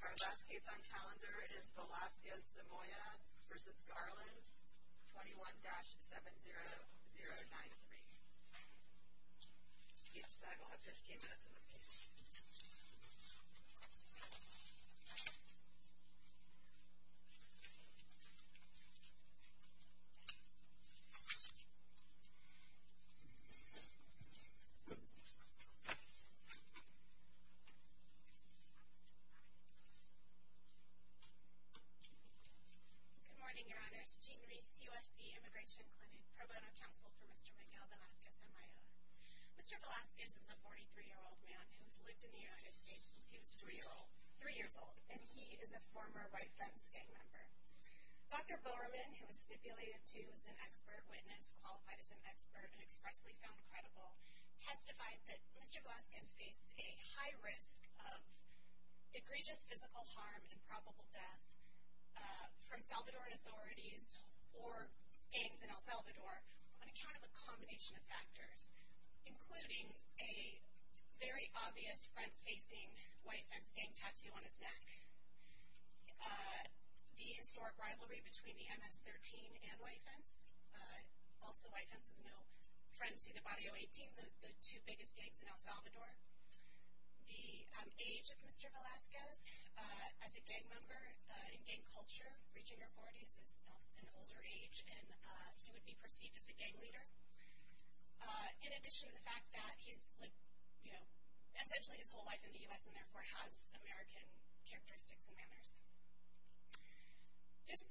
Our last case on calendar is Velasquez-Samayoa v. Garland, 21-70093. Each side will have 15 minutes in this case. Good morning, Your Honors. Jeanne Reese, USC Immigration Clinic, Pro Bono Counsel for Mr. Miguel Velasquez-Samayoa. Mr. Velasquez is a 43-year-old man who has lived in the United States since he was 3 years old, and he is a former White Friends gang member. Dr. Bowerman, who was stipulated to as an expert witness, qualified as an expert, and expressly found credible, testified that Mr. Velasquez faced a high risk of egregious physical harm and probable death from Salvadoran authorities or gangs in El Salvador on account of a combination of factors, including a very obvious front-facing White Friends gang tattoo on his neck, the historic rivalry between the MS-13 and White Friends. Also, White Friends is no friend to the Barrio 18, the two biggest gangs in El Salvador. The age of Mr. Velasquez, as a gang member in gang culture, reaching a record, he is of an older age, and he would be perceived as a gang leader. In addition to the fact that he's, you know, essentially his whole life in the U.S. and therefore has American characteristics and manners. This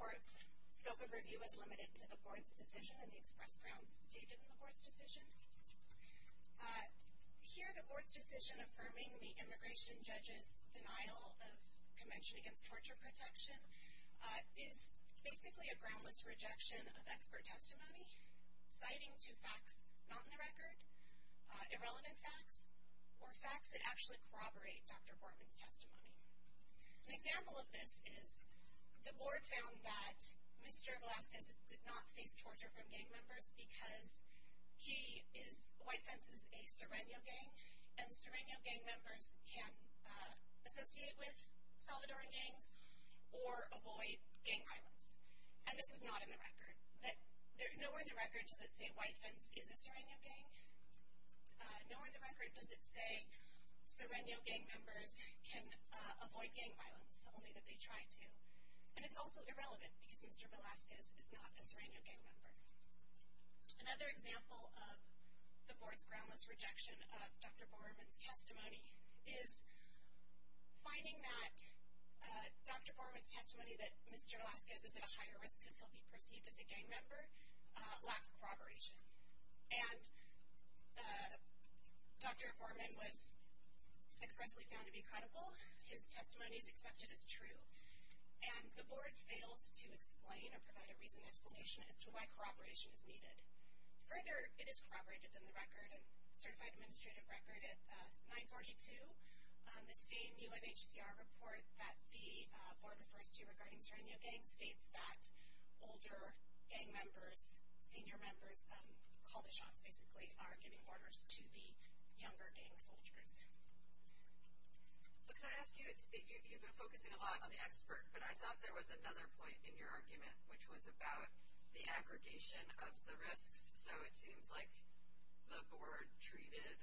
court's scope of review is limited to the board's decision and the express grounds stated in the board's decision. Here, the board's decision affirming the immigration judge's denial of Convention Against Torture Protection is basically a groundless rejection of expert testimony, citing two facts not in the record, irrelevant facts, or facts that actually corroborate Dr. Bortman's testimony. An example of this is the board found that Mr. Velasquez did not face torture from gang members because he is, White Friends is a Sereño gang, and Sereño gang members can associate with Salvadoran gangs or avoid gang violence. And this is not in the record. Nowhere in the record does it say White Friends is a Sereño gang. Nowhere in the record does it say Sereño gang members can avoid gang violence, only that they try to. And it's also irrelevant because Mr. Velasquez is not a Sereño gang member. Another example of the board's groundless rejection of Dr. Bortman's testimony is finding that Dr. Bortman's testimony that Mr. Velasquez is at a higher risk because he'll be perceived as a gang member lacks corroboration. And Dr. Bortman was expressly found to be credible. His testimony is accepted as true. And the board fails to explain or provide a reasoned explanation as to why corroboration is needed. Further, it is corroborated in the record and certified administrative record at 942. The same UNHCR report that the board refers to regarding Sereño gang states that older gang members, senior members, call the shots basically, are giving orders to the younger gang soldiers. But can I ask you, you've been focusing a lot on the expert, but I thought there was another point in your argument, which was about the aggregation of the risks. So it seems like the board treated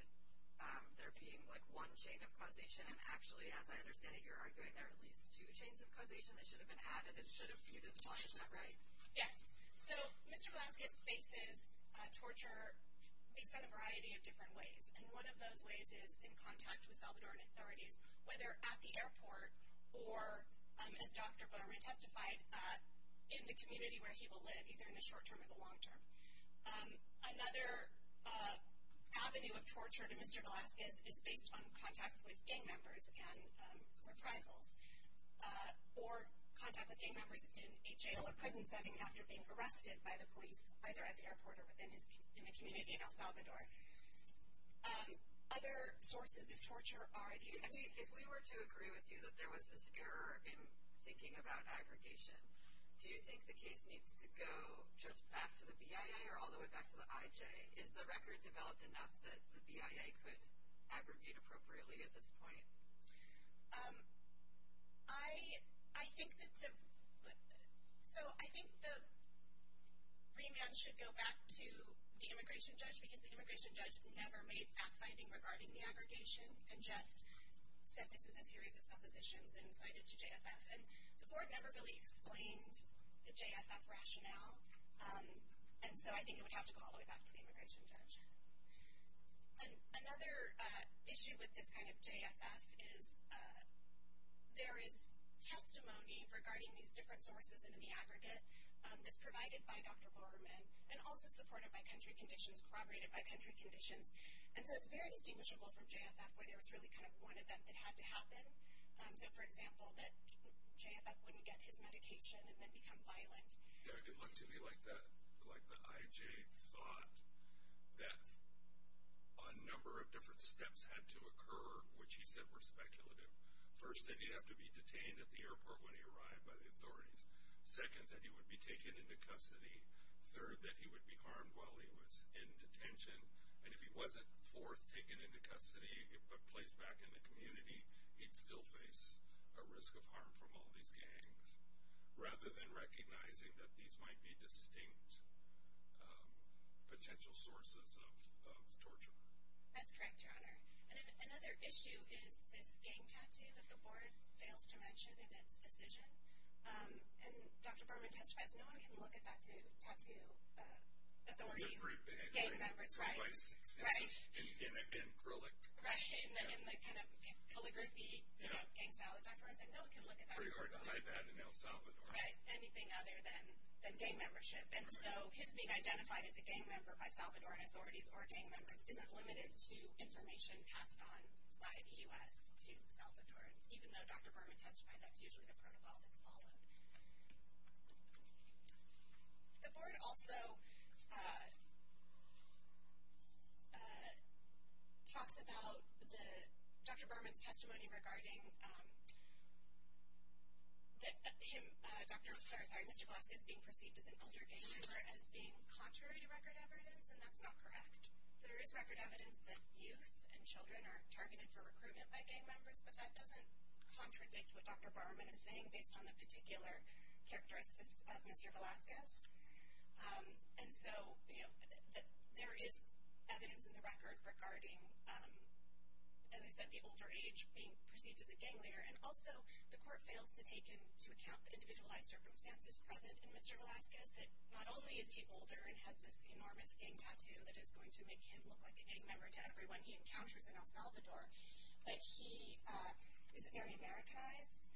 there being like one chain of causation, and actually, as I understand it, you're arguing there are at least two chains of causation that should have been added and should have been disqualified. Is that right? Yes. So Mr. Velasquez faces torture based on a variety of different ways. And one of those ways is in contact with Salvadoran authorities, whether at the airport or, as Dr. Bowman testified, in the community where he will live, either in the short term or the long term. Another avenue of torture to Mr. Velasquez is based on contacts with gang members and reprisals, or contact with gang members in a jail or prison setting after being arrested by the police, either at the airport or in the community in El Salvador. Other sources of torture are these. If we were to agree with you that there was this error in thinking about aggregation, do you think the case needs to go just back to the BIA or all the way back to the IJ? Is the record developed enough that the BIA could aggregate appropriately at this point? So I think the remand should go back to the immigration judge because the immigration judge never made fact-finding regarding the aggregation and just said this is a series of suppositions and cited to JFF. And the board never really explained the JFF rationale, and so I think it would have to go all the way back to the immigration judge. Another issue with this kind of JFF is there is testimony regarding these different sources in the aggregate that's provided by Dr. Borerman and also supported by country conditions, corroborated by country conditions, and so it's very distinguishable from JFF where there was really kind of one event that had to happen. So, for example, that JFF wouldn't get his medication and then become violent. It looked to me like the IJ thought that a number of different steps had to occur, which he said were speculative. First, that he'd have to be detained at the airport when he arrived by the authorities. Second, that he would be taken into custody. Third, that he would be harmed while he was in detention. And if he wasn't, fourth, taken into custody and placed back in the community, he'd still face a risk of harm from all these gangs. Rather than recognizing that these might be distinct potential sources of torture. That's correct, Your Honor. And another issue is this gang tattoo that the board fails to mention in its decision. And Dr. Borerman testifies, no one can look at that tattoo. Authorities, gang members, right? Right. In acrylic. Right. In the kind of calligraphy gang style that Dr. Borerman said, no one can look at that. It's very hard to hide that in El Salvador. Right, anything other than gang membership. And so his being identified as a gang member by Salvadoran authorities or gang members isn't limited to information passed on by the U.S. to Salvadorans. Even though Dr. Borerman testified, that's usually the protocol that's followed. The board also talks about Dr. Borerman's testimony regarding him, sorry, Mr. Velasquez being perceived as an older gang member as being contrary to record evidence. And that's not correct. There is record evidence that youth and children are targeted for recruitment by gang members. But that doesn't contradict what Dr. Borerman is saying, based on the particular characteristics of Mr. Velasquez. And so there is evidence in the record regarding, as I said, the older age being perceived as a gang leader. And also the court fails to take into account the individualized circumstances present in Mr. Velasquez, that not only is he older and has this enormous gang tattoo that is going to make him look like a gang member to everyone he encounters in El Salvador, but he is very Americanized.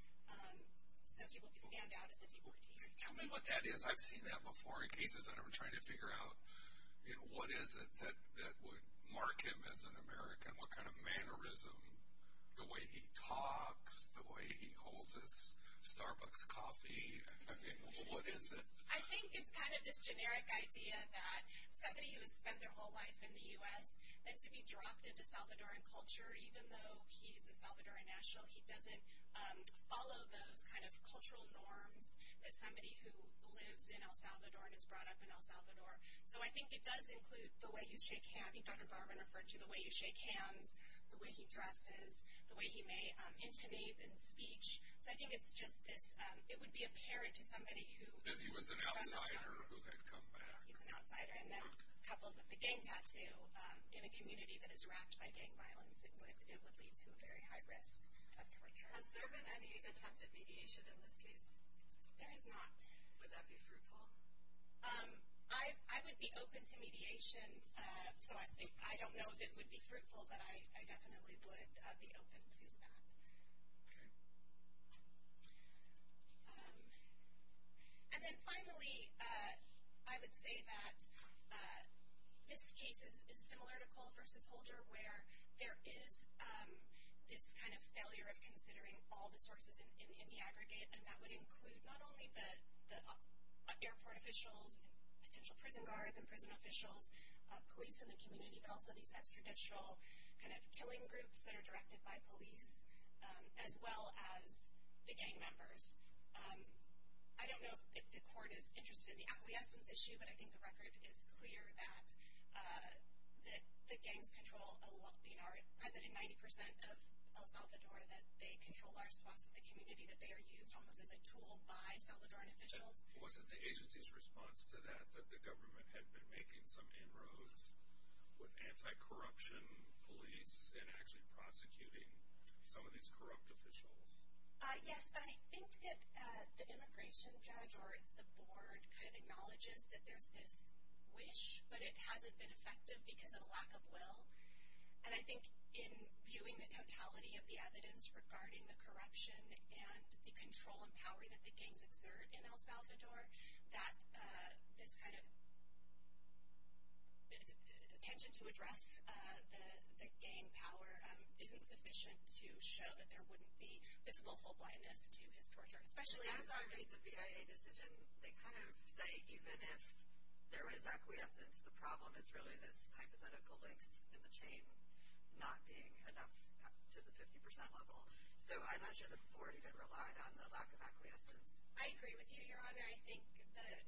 So he will stand out as a deportee. Tell me what that is. I've seen that before in cases that I'm trying to figure out. You know, what is it that would mark him as an American? What kind of mannerism, the way he talks, the way he holds his Starbucks coffee? I mean, what is it? I think it's kind of this generic idea that somebody who has spent their whole life in the U.S., and to be dropped into Salvadoran culture, even though he is a Salvadoran national, he doesn't follow those kind of cultural norms that somebody who lives in El Salvador and is brought up in El Salvador. So I think it does include the way you shake hands. I think Dr. Borerman referred to the way you shake hands, the way he dresses, the way he may intonate in speech. So I think it's just this. It would be apparent to somebody who is an outsider. If he was an outsider who had come back. He's an outsider. And then coupled with the gang tattoo, in a community that is wracked by gang violence, it would lead to a very high risk of torture. Has there been any attempted mediation in this case? There has not. Would that be fruitful? I would be open to mediation. So I don't know if it would be fruitful, but I definitely would be open to that. Okay. And then finally, I would say that this case is similar to Cole v. Holder, where there is this kind of failure of considering all the sources in the aggregate, and that would include not only the airport officials and potential prison guards and prison officials, police in the community, but also these extrajudicial kind of killing groups that are directed by police, as well as the gang members. I don't know if the court is interested in the acquiescence issue, but I think the record is clear that the gangs control, being our president, 90% of El Salvador, that they control large swaths of the community, that they are used almost as a tool by Salvadoran officials. Was it the agency's response to that, that the government had been making some inroads with anti-corruption police and actually prosecuting some of these corrupt officials? Yes, I think that the immigration judge, or it's the board, kind of acknowledges that there's this wish, but it hasn't been effective because of a lack of will. And I think in viewing the totality of the evidence regarding the corruption and the control and power that the gangs exert in El Salvador, that this kind of intention to address the gang power isn't sufficient to show that there wouldn't be visible full blindness to his torture. Especially as a case of BIA decision, they kind of say even if there is acquiescence, the problem is really this hypothetical links in the chain not being enough to the 50% level. So I'm not sure the board even relied on the lack of acquiescence. I agree with you, Your Honor. I think that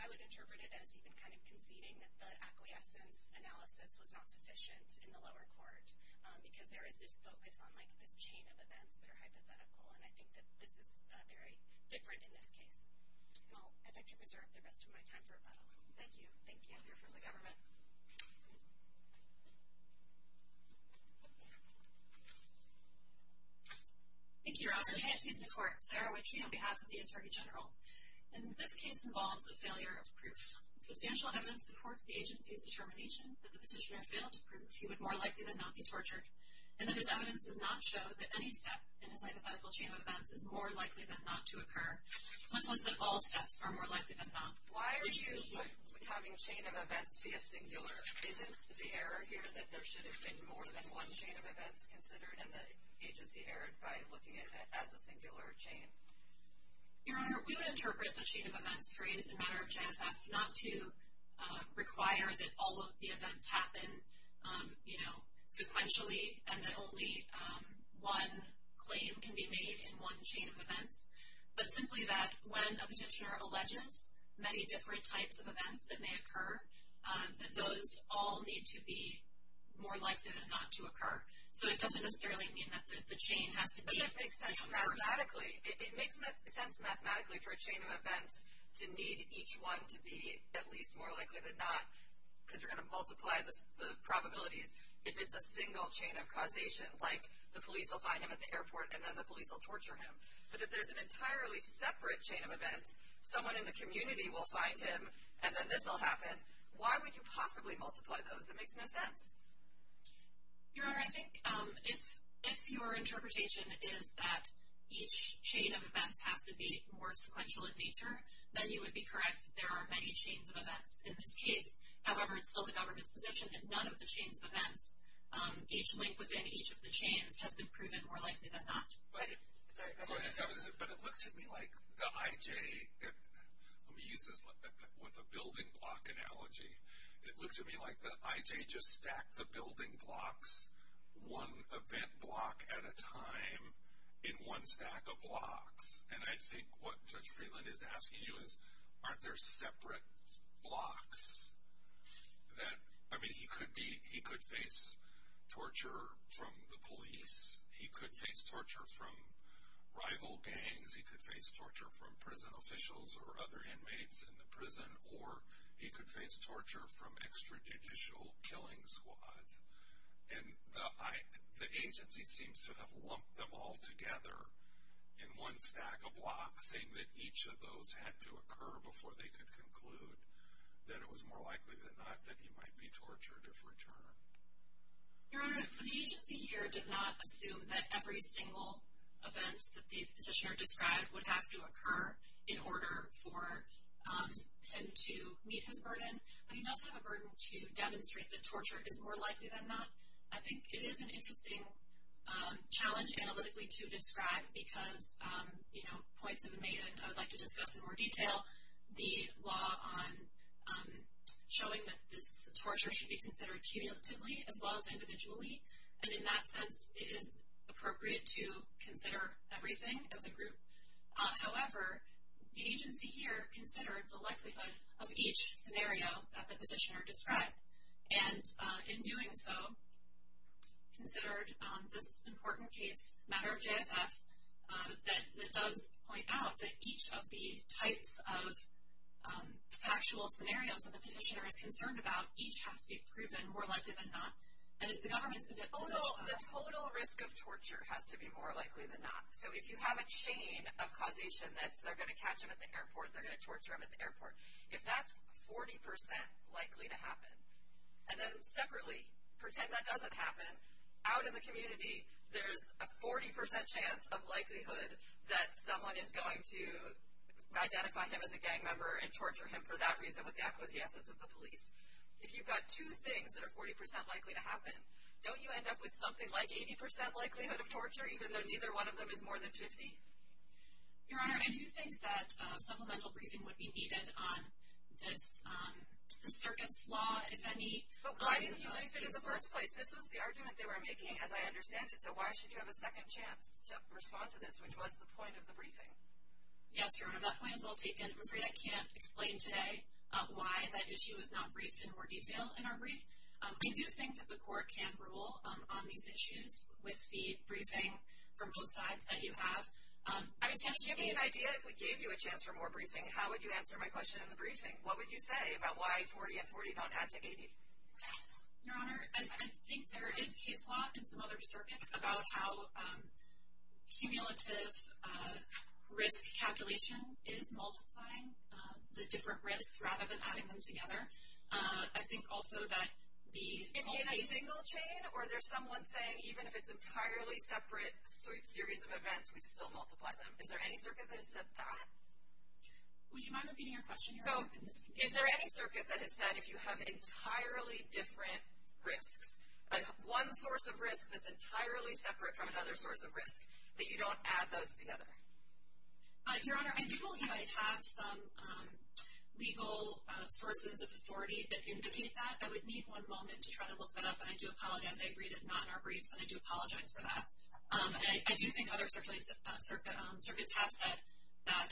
I would interpret it as even kind of conceding that the acquiescence analysis was not sufficient in the lower court because there is this focus on this chain of events that are hypothetical, and I think that this is very different in this case. I'd like to preserve the rest of my time for rebuttal. Thank you. I'll hear from the government. Thank you, Your Honor. I'm here to support Sarah Wickey on behalf of the Attorney General. And this case involves a failure of proof. Substantial evidence supports the agency's determination that the petitioner failed to prove he would more likely than not be tortured, and that his evidence does not show that any step in his hypothetical chain of events is more likely than not to occur, much less that all steps are more likely than not. Why are you having chain of events be a singular? Isn't the error here that there should have been more than one chain of events considered, and the agency erred by looking at it as a singular chain? Your Honor, we would interpret the chain of events phrase in matter of JFF not to require that all of the events happen sequentially and that only one claim can be made in one chain of events, but simply that when a petitioner alleges many different types of events that may occur, that those all need to be more likely than not to occur. So it doesn't necessarily mean that the chain has to be a singular. But it makes sense mathematically. It makes sense mathematically for a chain of events to need each one to be at least more likely than not, because you're going to multiply the probabilities, if it's a single chain of causation, like the police will find him at the airport and then the police will torture him. But if there's an entirely separate chain of events, someone in the community will find him and then this will happen. Why would you possibly multiply those? It makes no sense. Your Honor, I think if your interpretation is that each chain of events has to be more sequential in nature, then you would be correct. There are many chains of events in this case. However, it's still the government's position that none of the chains of events, each link within each of the chains, has been proven more likely than not. But it looked to me like the IJ, let me use this with a building block analogy, it looked to me like the IJ just stacked the building blocks one event block at a time in one stack of blocks. And I think what Judge Freeland is asking you is aren't there separate blocks that, I mean he could face torture from the police, he could face torture from rival gangs, he could face torture from prison officials or other inmates in the prison, or he could face torture from extrajudicial killing squads. And the agency seems to have lumped them all together in one stack of blocks, saying that each of those had to occur before they could conclude that it was more likely than not that he might be tortured if returned. Your Honor, the agency here did not assume that every single event that the petitioner described would have to occur in order for him to meet his burden. But he does have a burden to demonstrate that torture is more likely than not. I think it is an interesting challenge analytically to describe because, you know, points have been made, and I would like to discuss in more detail, the law on showing that this torture should be considered cumulatively as well as individually. And in that sense, it is appropriate to consider everything as a group. However, the agency here considered the likelihood of each scenario that the petitioner described. And in doing so, considered this important case, matter of JFF, that does point out that each of the types of factual scenarios that the petitioner is concerned about, each has to be proven more likely than not. And it's the government's position. The total risk of torture has to be more likely than not. So if you have a chain of causation that they're going to catch him at the airport, they're going to torture him at the airport, if that's 40% likely to happen, and then separately, pretend that doesn't happen, out in the community, there's a 40% chance of likelihood that someone is going to identify him as a gang member and torture him for that reason with the acquiescence of the police. If you've got two things that are 40% likely to happen, don't you end up with something like 80% likelihood of torture, even though neither one of them is more than 50? Your Honor, I do think that supplemental briefing would be needed on this circuit's law, if any. But why didn't he like it in the first place? This was the argument they were making, as I understand it. So why should you have a second chance to respond to this, which was the point of the briefing? Yes, Your Honor, that point is well taken. I'm afraid I can't explain today why that issue is not briefed in more detail in our brief. I do think that the court can rule on these issues with the briefing from both sides that you have. I was going to give you an idea, if we gave you a chance for more briefing, how would you answer my question in the briefing? What would you say about why 40 and 40 don't add to 80? Your Honor, I think there is case law in some other circuits about how cumulative risk calculation is multiplying the different risks rather than adding them together. I think also that the whole case... Is it in a single chain, or is there someone saying even if it's an entirely separate series of events, we still multiply them? Is there any circuit that has said that? Would you mind repeating your question, Your Honor? Is there any circuit that has said if you have entirely different risks, one source of risk that's entirely separate from another source of risk, that you don't add those together? Your Honor, I do believe I have some legal sources of authority that indicate that. I would need one moment to try to look that up, and I do apologize. I agreed it's not in our brief, and I do apologize for that. I do think other circuits have said that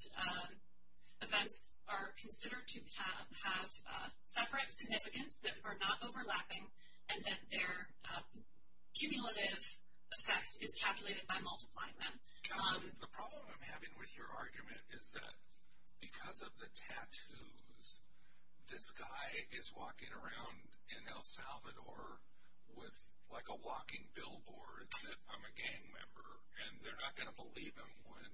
events are considered to have separate significance that are not overlapping, and that their cumulative effect is calculated by multiplying them. The problem I'm having with your argument is that because of the tattoos, this guy is walking around in El Salvador with like a walking billboard that I'm a gang member, and they're not going to believe him when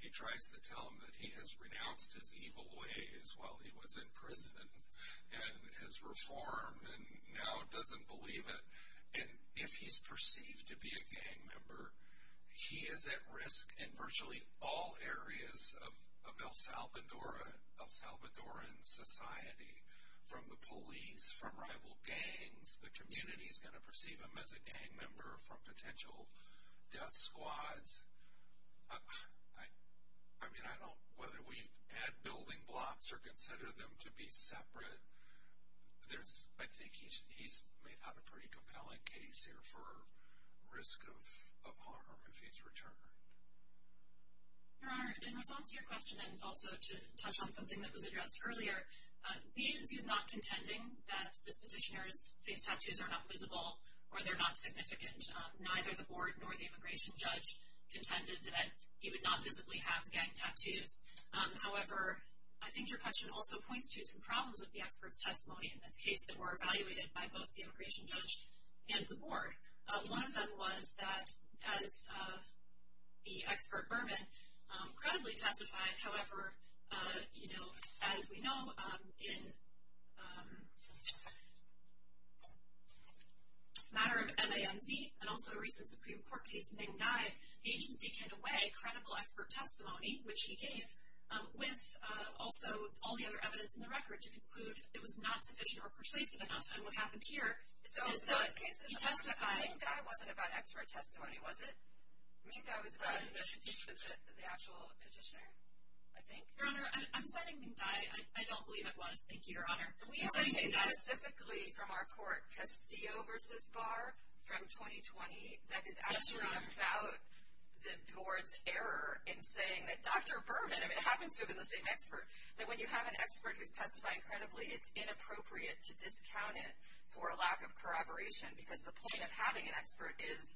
he tries to tell them that he has renounced his evil ways while he was in prison and has reformed and now doesn't believe it. And if he's perceived to be a gang member, he is at risk in virtually all areas of El Salvadoran society, from the police, from rival gangs. The community is going to perceive him as a gang member from potential death squads. I mean, I don't, whether we add building blocks or consider them to be separate, I think he may have a pretty compelling case here for risk of harm if he's returned. Your Honor, in response to your question, and also to touch on something that was addressed earlier, the agency is not contending that this petitioner's face tattoos are not visible or they're not significant. Neither the board nor the immigration judge contended that he would not visibly have gang tattoos. However, I think your question also points to some problems with the expert's testimony in this case that were evaluated by both the immigration judge and the board. One of them was that as the expert Berman credibly testified, however, you know, as we know, in a matter of MAMZ and also a recent Supreme Court case named Nye, the agency handed away credible expert testimony, which he gave, with also all the other evidence in the record to conclude it was not sufficient or persuasive enough, and what happened here is that he testified. Minkai wasn't about expert testimony, was it? Minkai was about the actual petitioner, I think. Your Honor, I'm citing Minkai. I don't believe it was. Thank you, Your Honor. We say specifically from our court, Castillo versus Barr from 2020, that is actually about the board's error in saying that Dr. Berman, if it happens to have been the same expert, that when you have an expert who's testifying credibly, it's inappropriate to discount it for a lack of corroboration because the point of having an expert is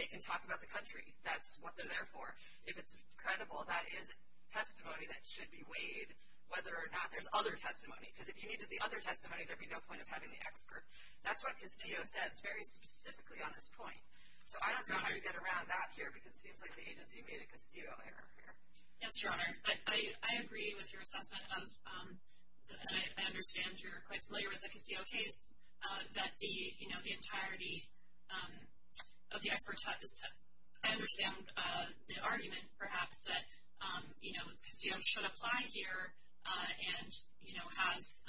they can talk about the country. That's what they're there for. If it's credible, that is testimony that should be weighed whether or not there's other testimony because if you needed the other testimony, there'd be no point of having the expert. That's what Castillo says very specifically on this point. So I don't know how you get around that here because it seems like the agency made a Castillo error here. Yes, Your Honor. I agree with your assessment of, and I understand you're quite familiar with the Castillo case, that the entirety of the expert test is to understand the argument perhaps that Castillo should apply here and, you know, has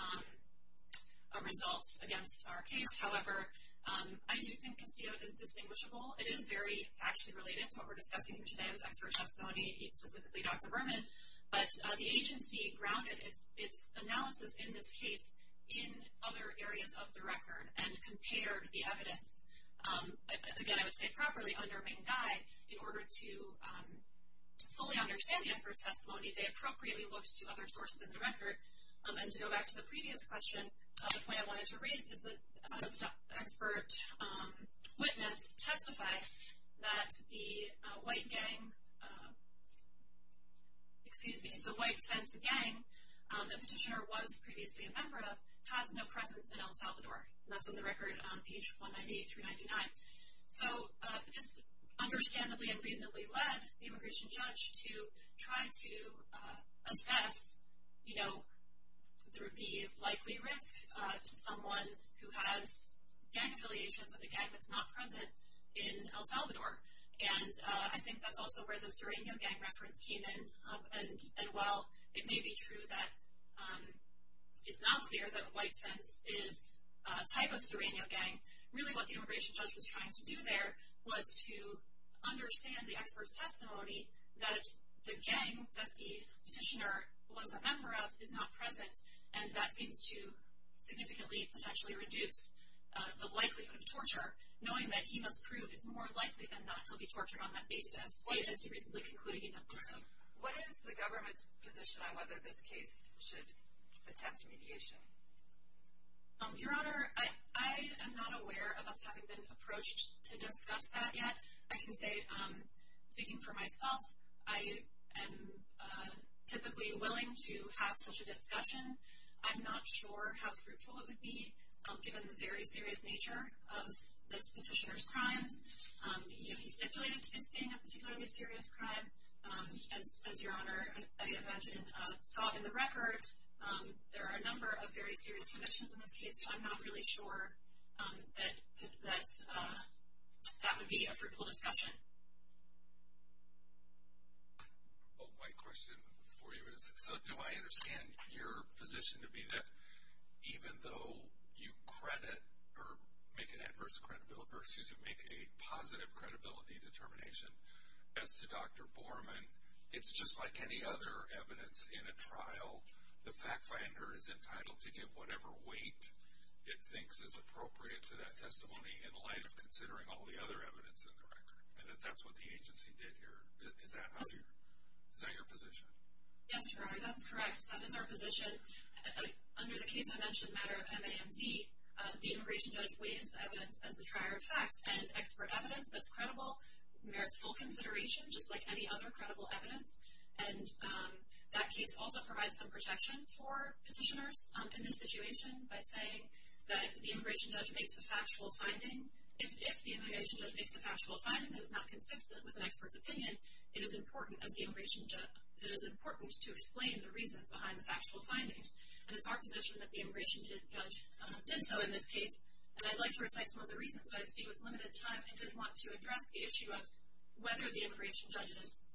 a result against our case. However, I do think Castillo is distinguishable. It is very factually related to what we're discussing here today with expert testimony, specifically Dr. Berman. But the agency grounded its analysis in this case in other areas of the record and compared the evidence. Again, I would say properly under main guide, in order to fully understand the expert testimony, they appropriately looked to other sources in the record. And to go back to the previous question, the point I wanted to raise is that the expert witness testified that the white gang, excuse me, the white sense gang the petitioner was previously a member of has no presence in El Salvador. And that's on the record on page 198 through 99. So this understandably and reasonably led the immigration judge to try to assess, you know, there would be likely risk to someone who has gang affiliations with a gang that's not present in El Salvador. And I think that's also where the Sereno gang reference came in. And while it may be true that it's not clear that white sense is a type of Sereno gang, really what the immigration judge was trying to do there was to understand the expert's testimony that the gang that the petitioner was a member of is not present. And that seems to significantly potentially reduce the likelihood of torture, knowing that he must prove it's more likely than not he'll be tortured on that basis. It's a seriously concluding and important. What is the government's position on whether this case should attempt mediation? Your Honor, I am not aware of us having been approached to discuss that yet. I can say, speaking for myself, I am typically willing to have such a discussion. I'm not sure how fruitful it would be given the very serious nature of this petitioner's crimes. He stipulated it as being a particularly serious crime. As Your Honor, I imagine, saw in the record, there are a number of very serious convictions in this case, so I'm not really sure that that would be a fruitful discussion. My question for you is, so do I understand your position to be that even though you credit or make an adverse credibility, or excuse me, make a positive credibility determination, as to Dr. Borman, it's just like any other evidence in a trial. The fact finder is entitled to give whatever weight it thinks is appropriate to that testimony in light of considering all the other evidence in the record. And that that's what the agency did here. Is that your position? That is our position. Under the case I mentioned, the matter of MAMZ, the immigration judge weighs the evidence as the trier of fact. And expert evidence that's credible merits full consideration, just like any other credible evidence. And that case also provides some protection for petitioners in this situation by saying that the immigration judge makes a factual finding. If the immigration judge makes a factual finding that is not consistent with an expert's opinion, it is important to explain the reasons behind the factual findings. And it's our position that the immigration judge did so in this case. And I'd like to recite some of the reasons that I see with limited time. I did want to address the issue of whether the immigration judge's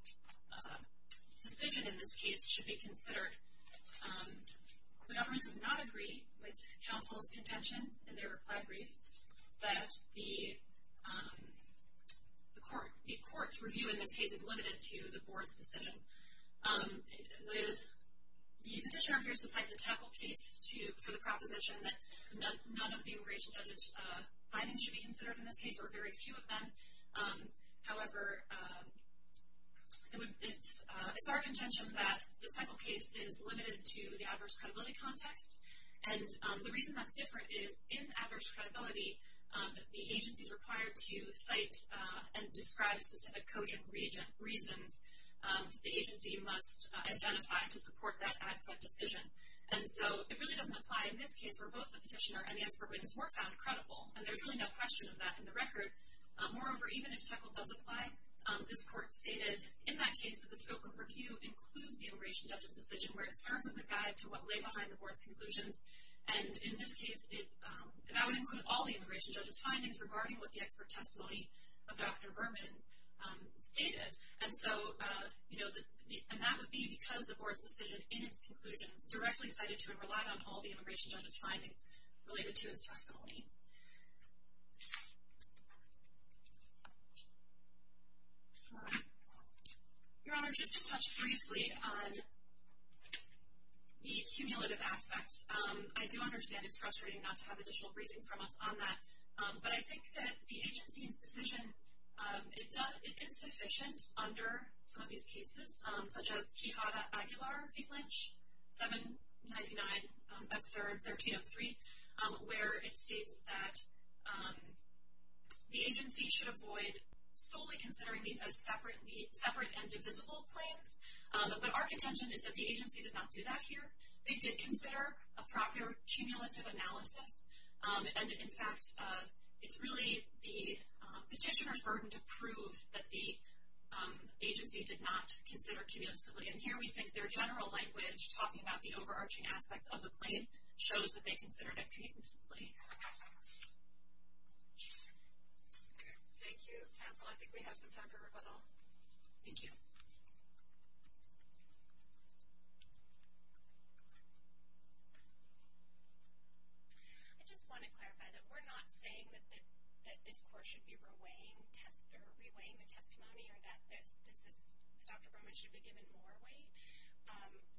decision in this case should be considered. The government does not agree with counsel's contention in their reply brief that the court's review in this case is limited to the board's decision. The petitioner appears to cite the Teckle case for the proposition that none of the immigration judge's findings should be considered in this case, or very few of them. However, it's our contention that the Teckle case is limited to the adverse credibility context. And the reason that's different is in adverse credibility, the agency is required to cite and describe specific cogent reasons that the agency must identify to support that ad hoc decision. And so it really doesn't apply in this case where both the petitioner and the expert witness were found credible. And there's really no question of that in the record. Moreover, even if Teckle does apply, this court stated in that case that the scope of review includes the immigration judge's decision where it serves as a guide to what lay behind the board's conclusions. And in this case, that would include all the immigration judge's findings regarding what the expert testimony of Dr. Berman stated. And that would be because the board's decision in its conclusion is directly cited to and relied on all the immigration judge's findings related to his testimony. Your Honor, just to touch briefly on the cumulative aspect, I do understand it's frustrating not to have additional briefing from us on that. But I think that the agency's decision, it is sufficient under some of these cases, such as Quijada Aguilar v. Lynch, 799 F. 3rd, 1303, where it states that the agency should avoid solely considering these as separate and divisible claims. But our contention is that the agency did not do that here. They did consider a proper cumulative analysis. And, in fact, it's really the petitioner's burden to prove that the agency did not consider cumulatively. And here we think their general language, talking about the overarching aspects of the claim, shows that they considered it cumulatively. Thank you, counsel. I think we have some time for rebuttal. Thank you. I just want to clarify that we're not saying that this Court should be reweighing the testimony or that Dr. Borman should be given more weight.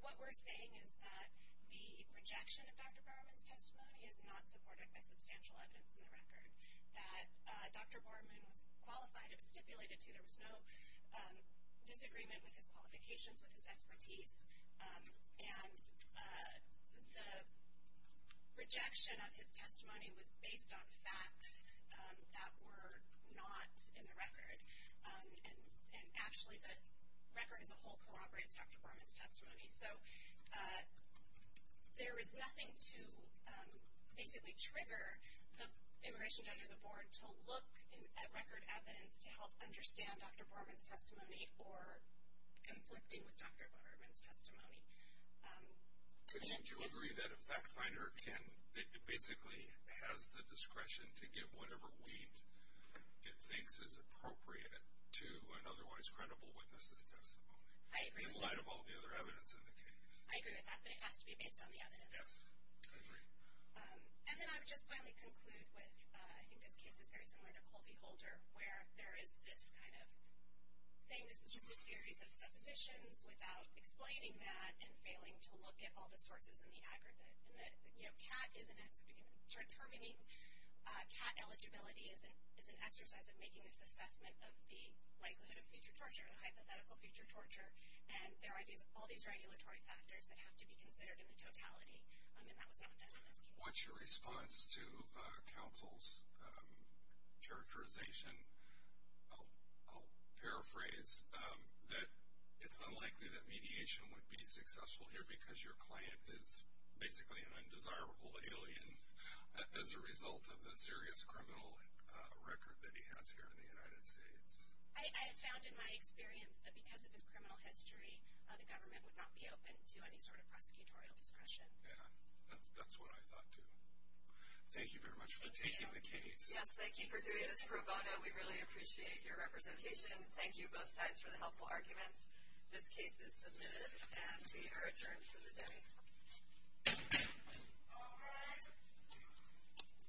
What we're saying is that the rejection of Dr. Borman's testimony is not supported by substantial evidence in the record, that Dr. Borman was qualified or stipulated to. There was no disagreement with his qualifications, with his expertise. And the rejection of his testimony was based on facts that were not in the record. And, actually, the record as a whole corroborates Dr. Borman's testimony. So there is nothing to basically trigger the immigration judge or the board to look at record evidence to help understand Dr. Borman's testimony or conflicting with Dr. Borman's testimony. Do you agree that a fact finder basically has the discretion to give whatever weight it thinks is appropriate to an otherwise credible witness's testimony? I agree. In light of all the other evidence in the case. I agree with that. But it has to be based on the evidence. Yes. I agree. And then I would just finally conclude with, I think this case is very similar to Colby-Holder, where there is this kind of saying this is just a series of suppositions without explaining that and failing to look at all the sources and the aggregate. And that, you know, determining cat eligibility is an exercise of making this assessment of the likelihood of future torture and hypothetical future torture. And there are all these regulatory factors that have to be considered in the totality. And that was not done in this case. What's your response to counsel's characterization? I'll paraphrase that it's unlikely that mediation would be successful here because your client is basically an undesirable alien as a result of the serious criminal record that he has here in the United States. I have found in my experience that because of his criminal history, the government would not be open to any sort of prosecutorial discretion. Yeah. That's what I thought too. Thank you very much for taking the case. Yes. Thank you for doing this pro bono. We really appreciate your representation. Thank you both sides for the helpful arguments. This case is submitted and we are adjourned for the day. All rise.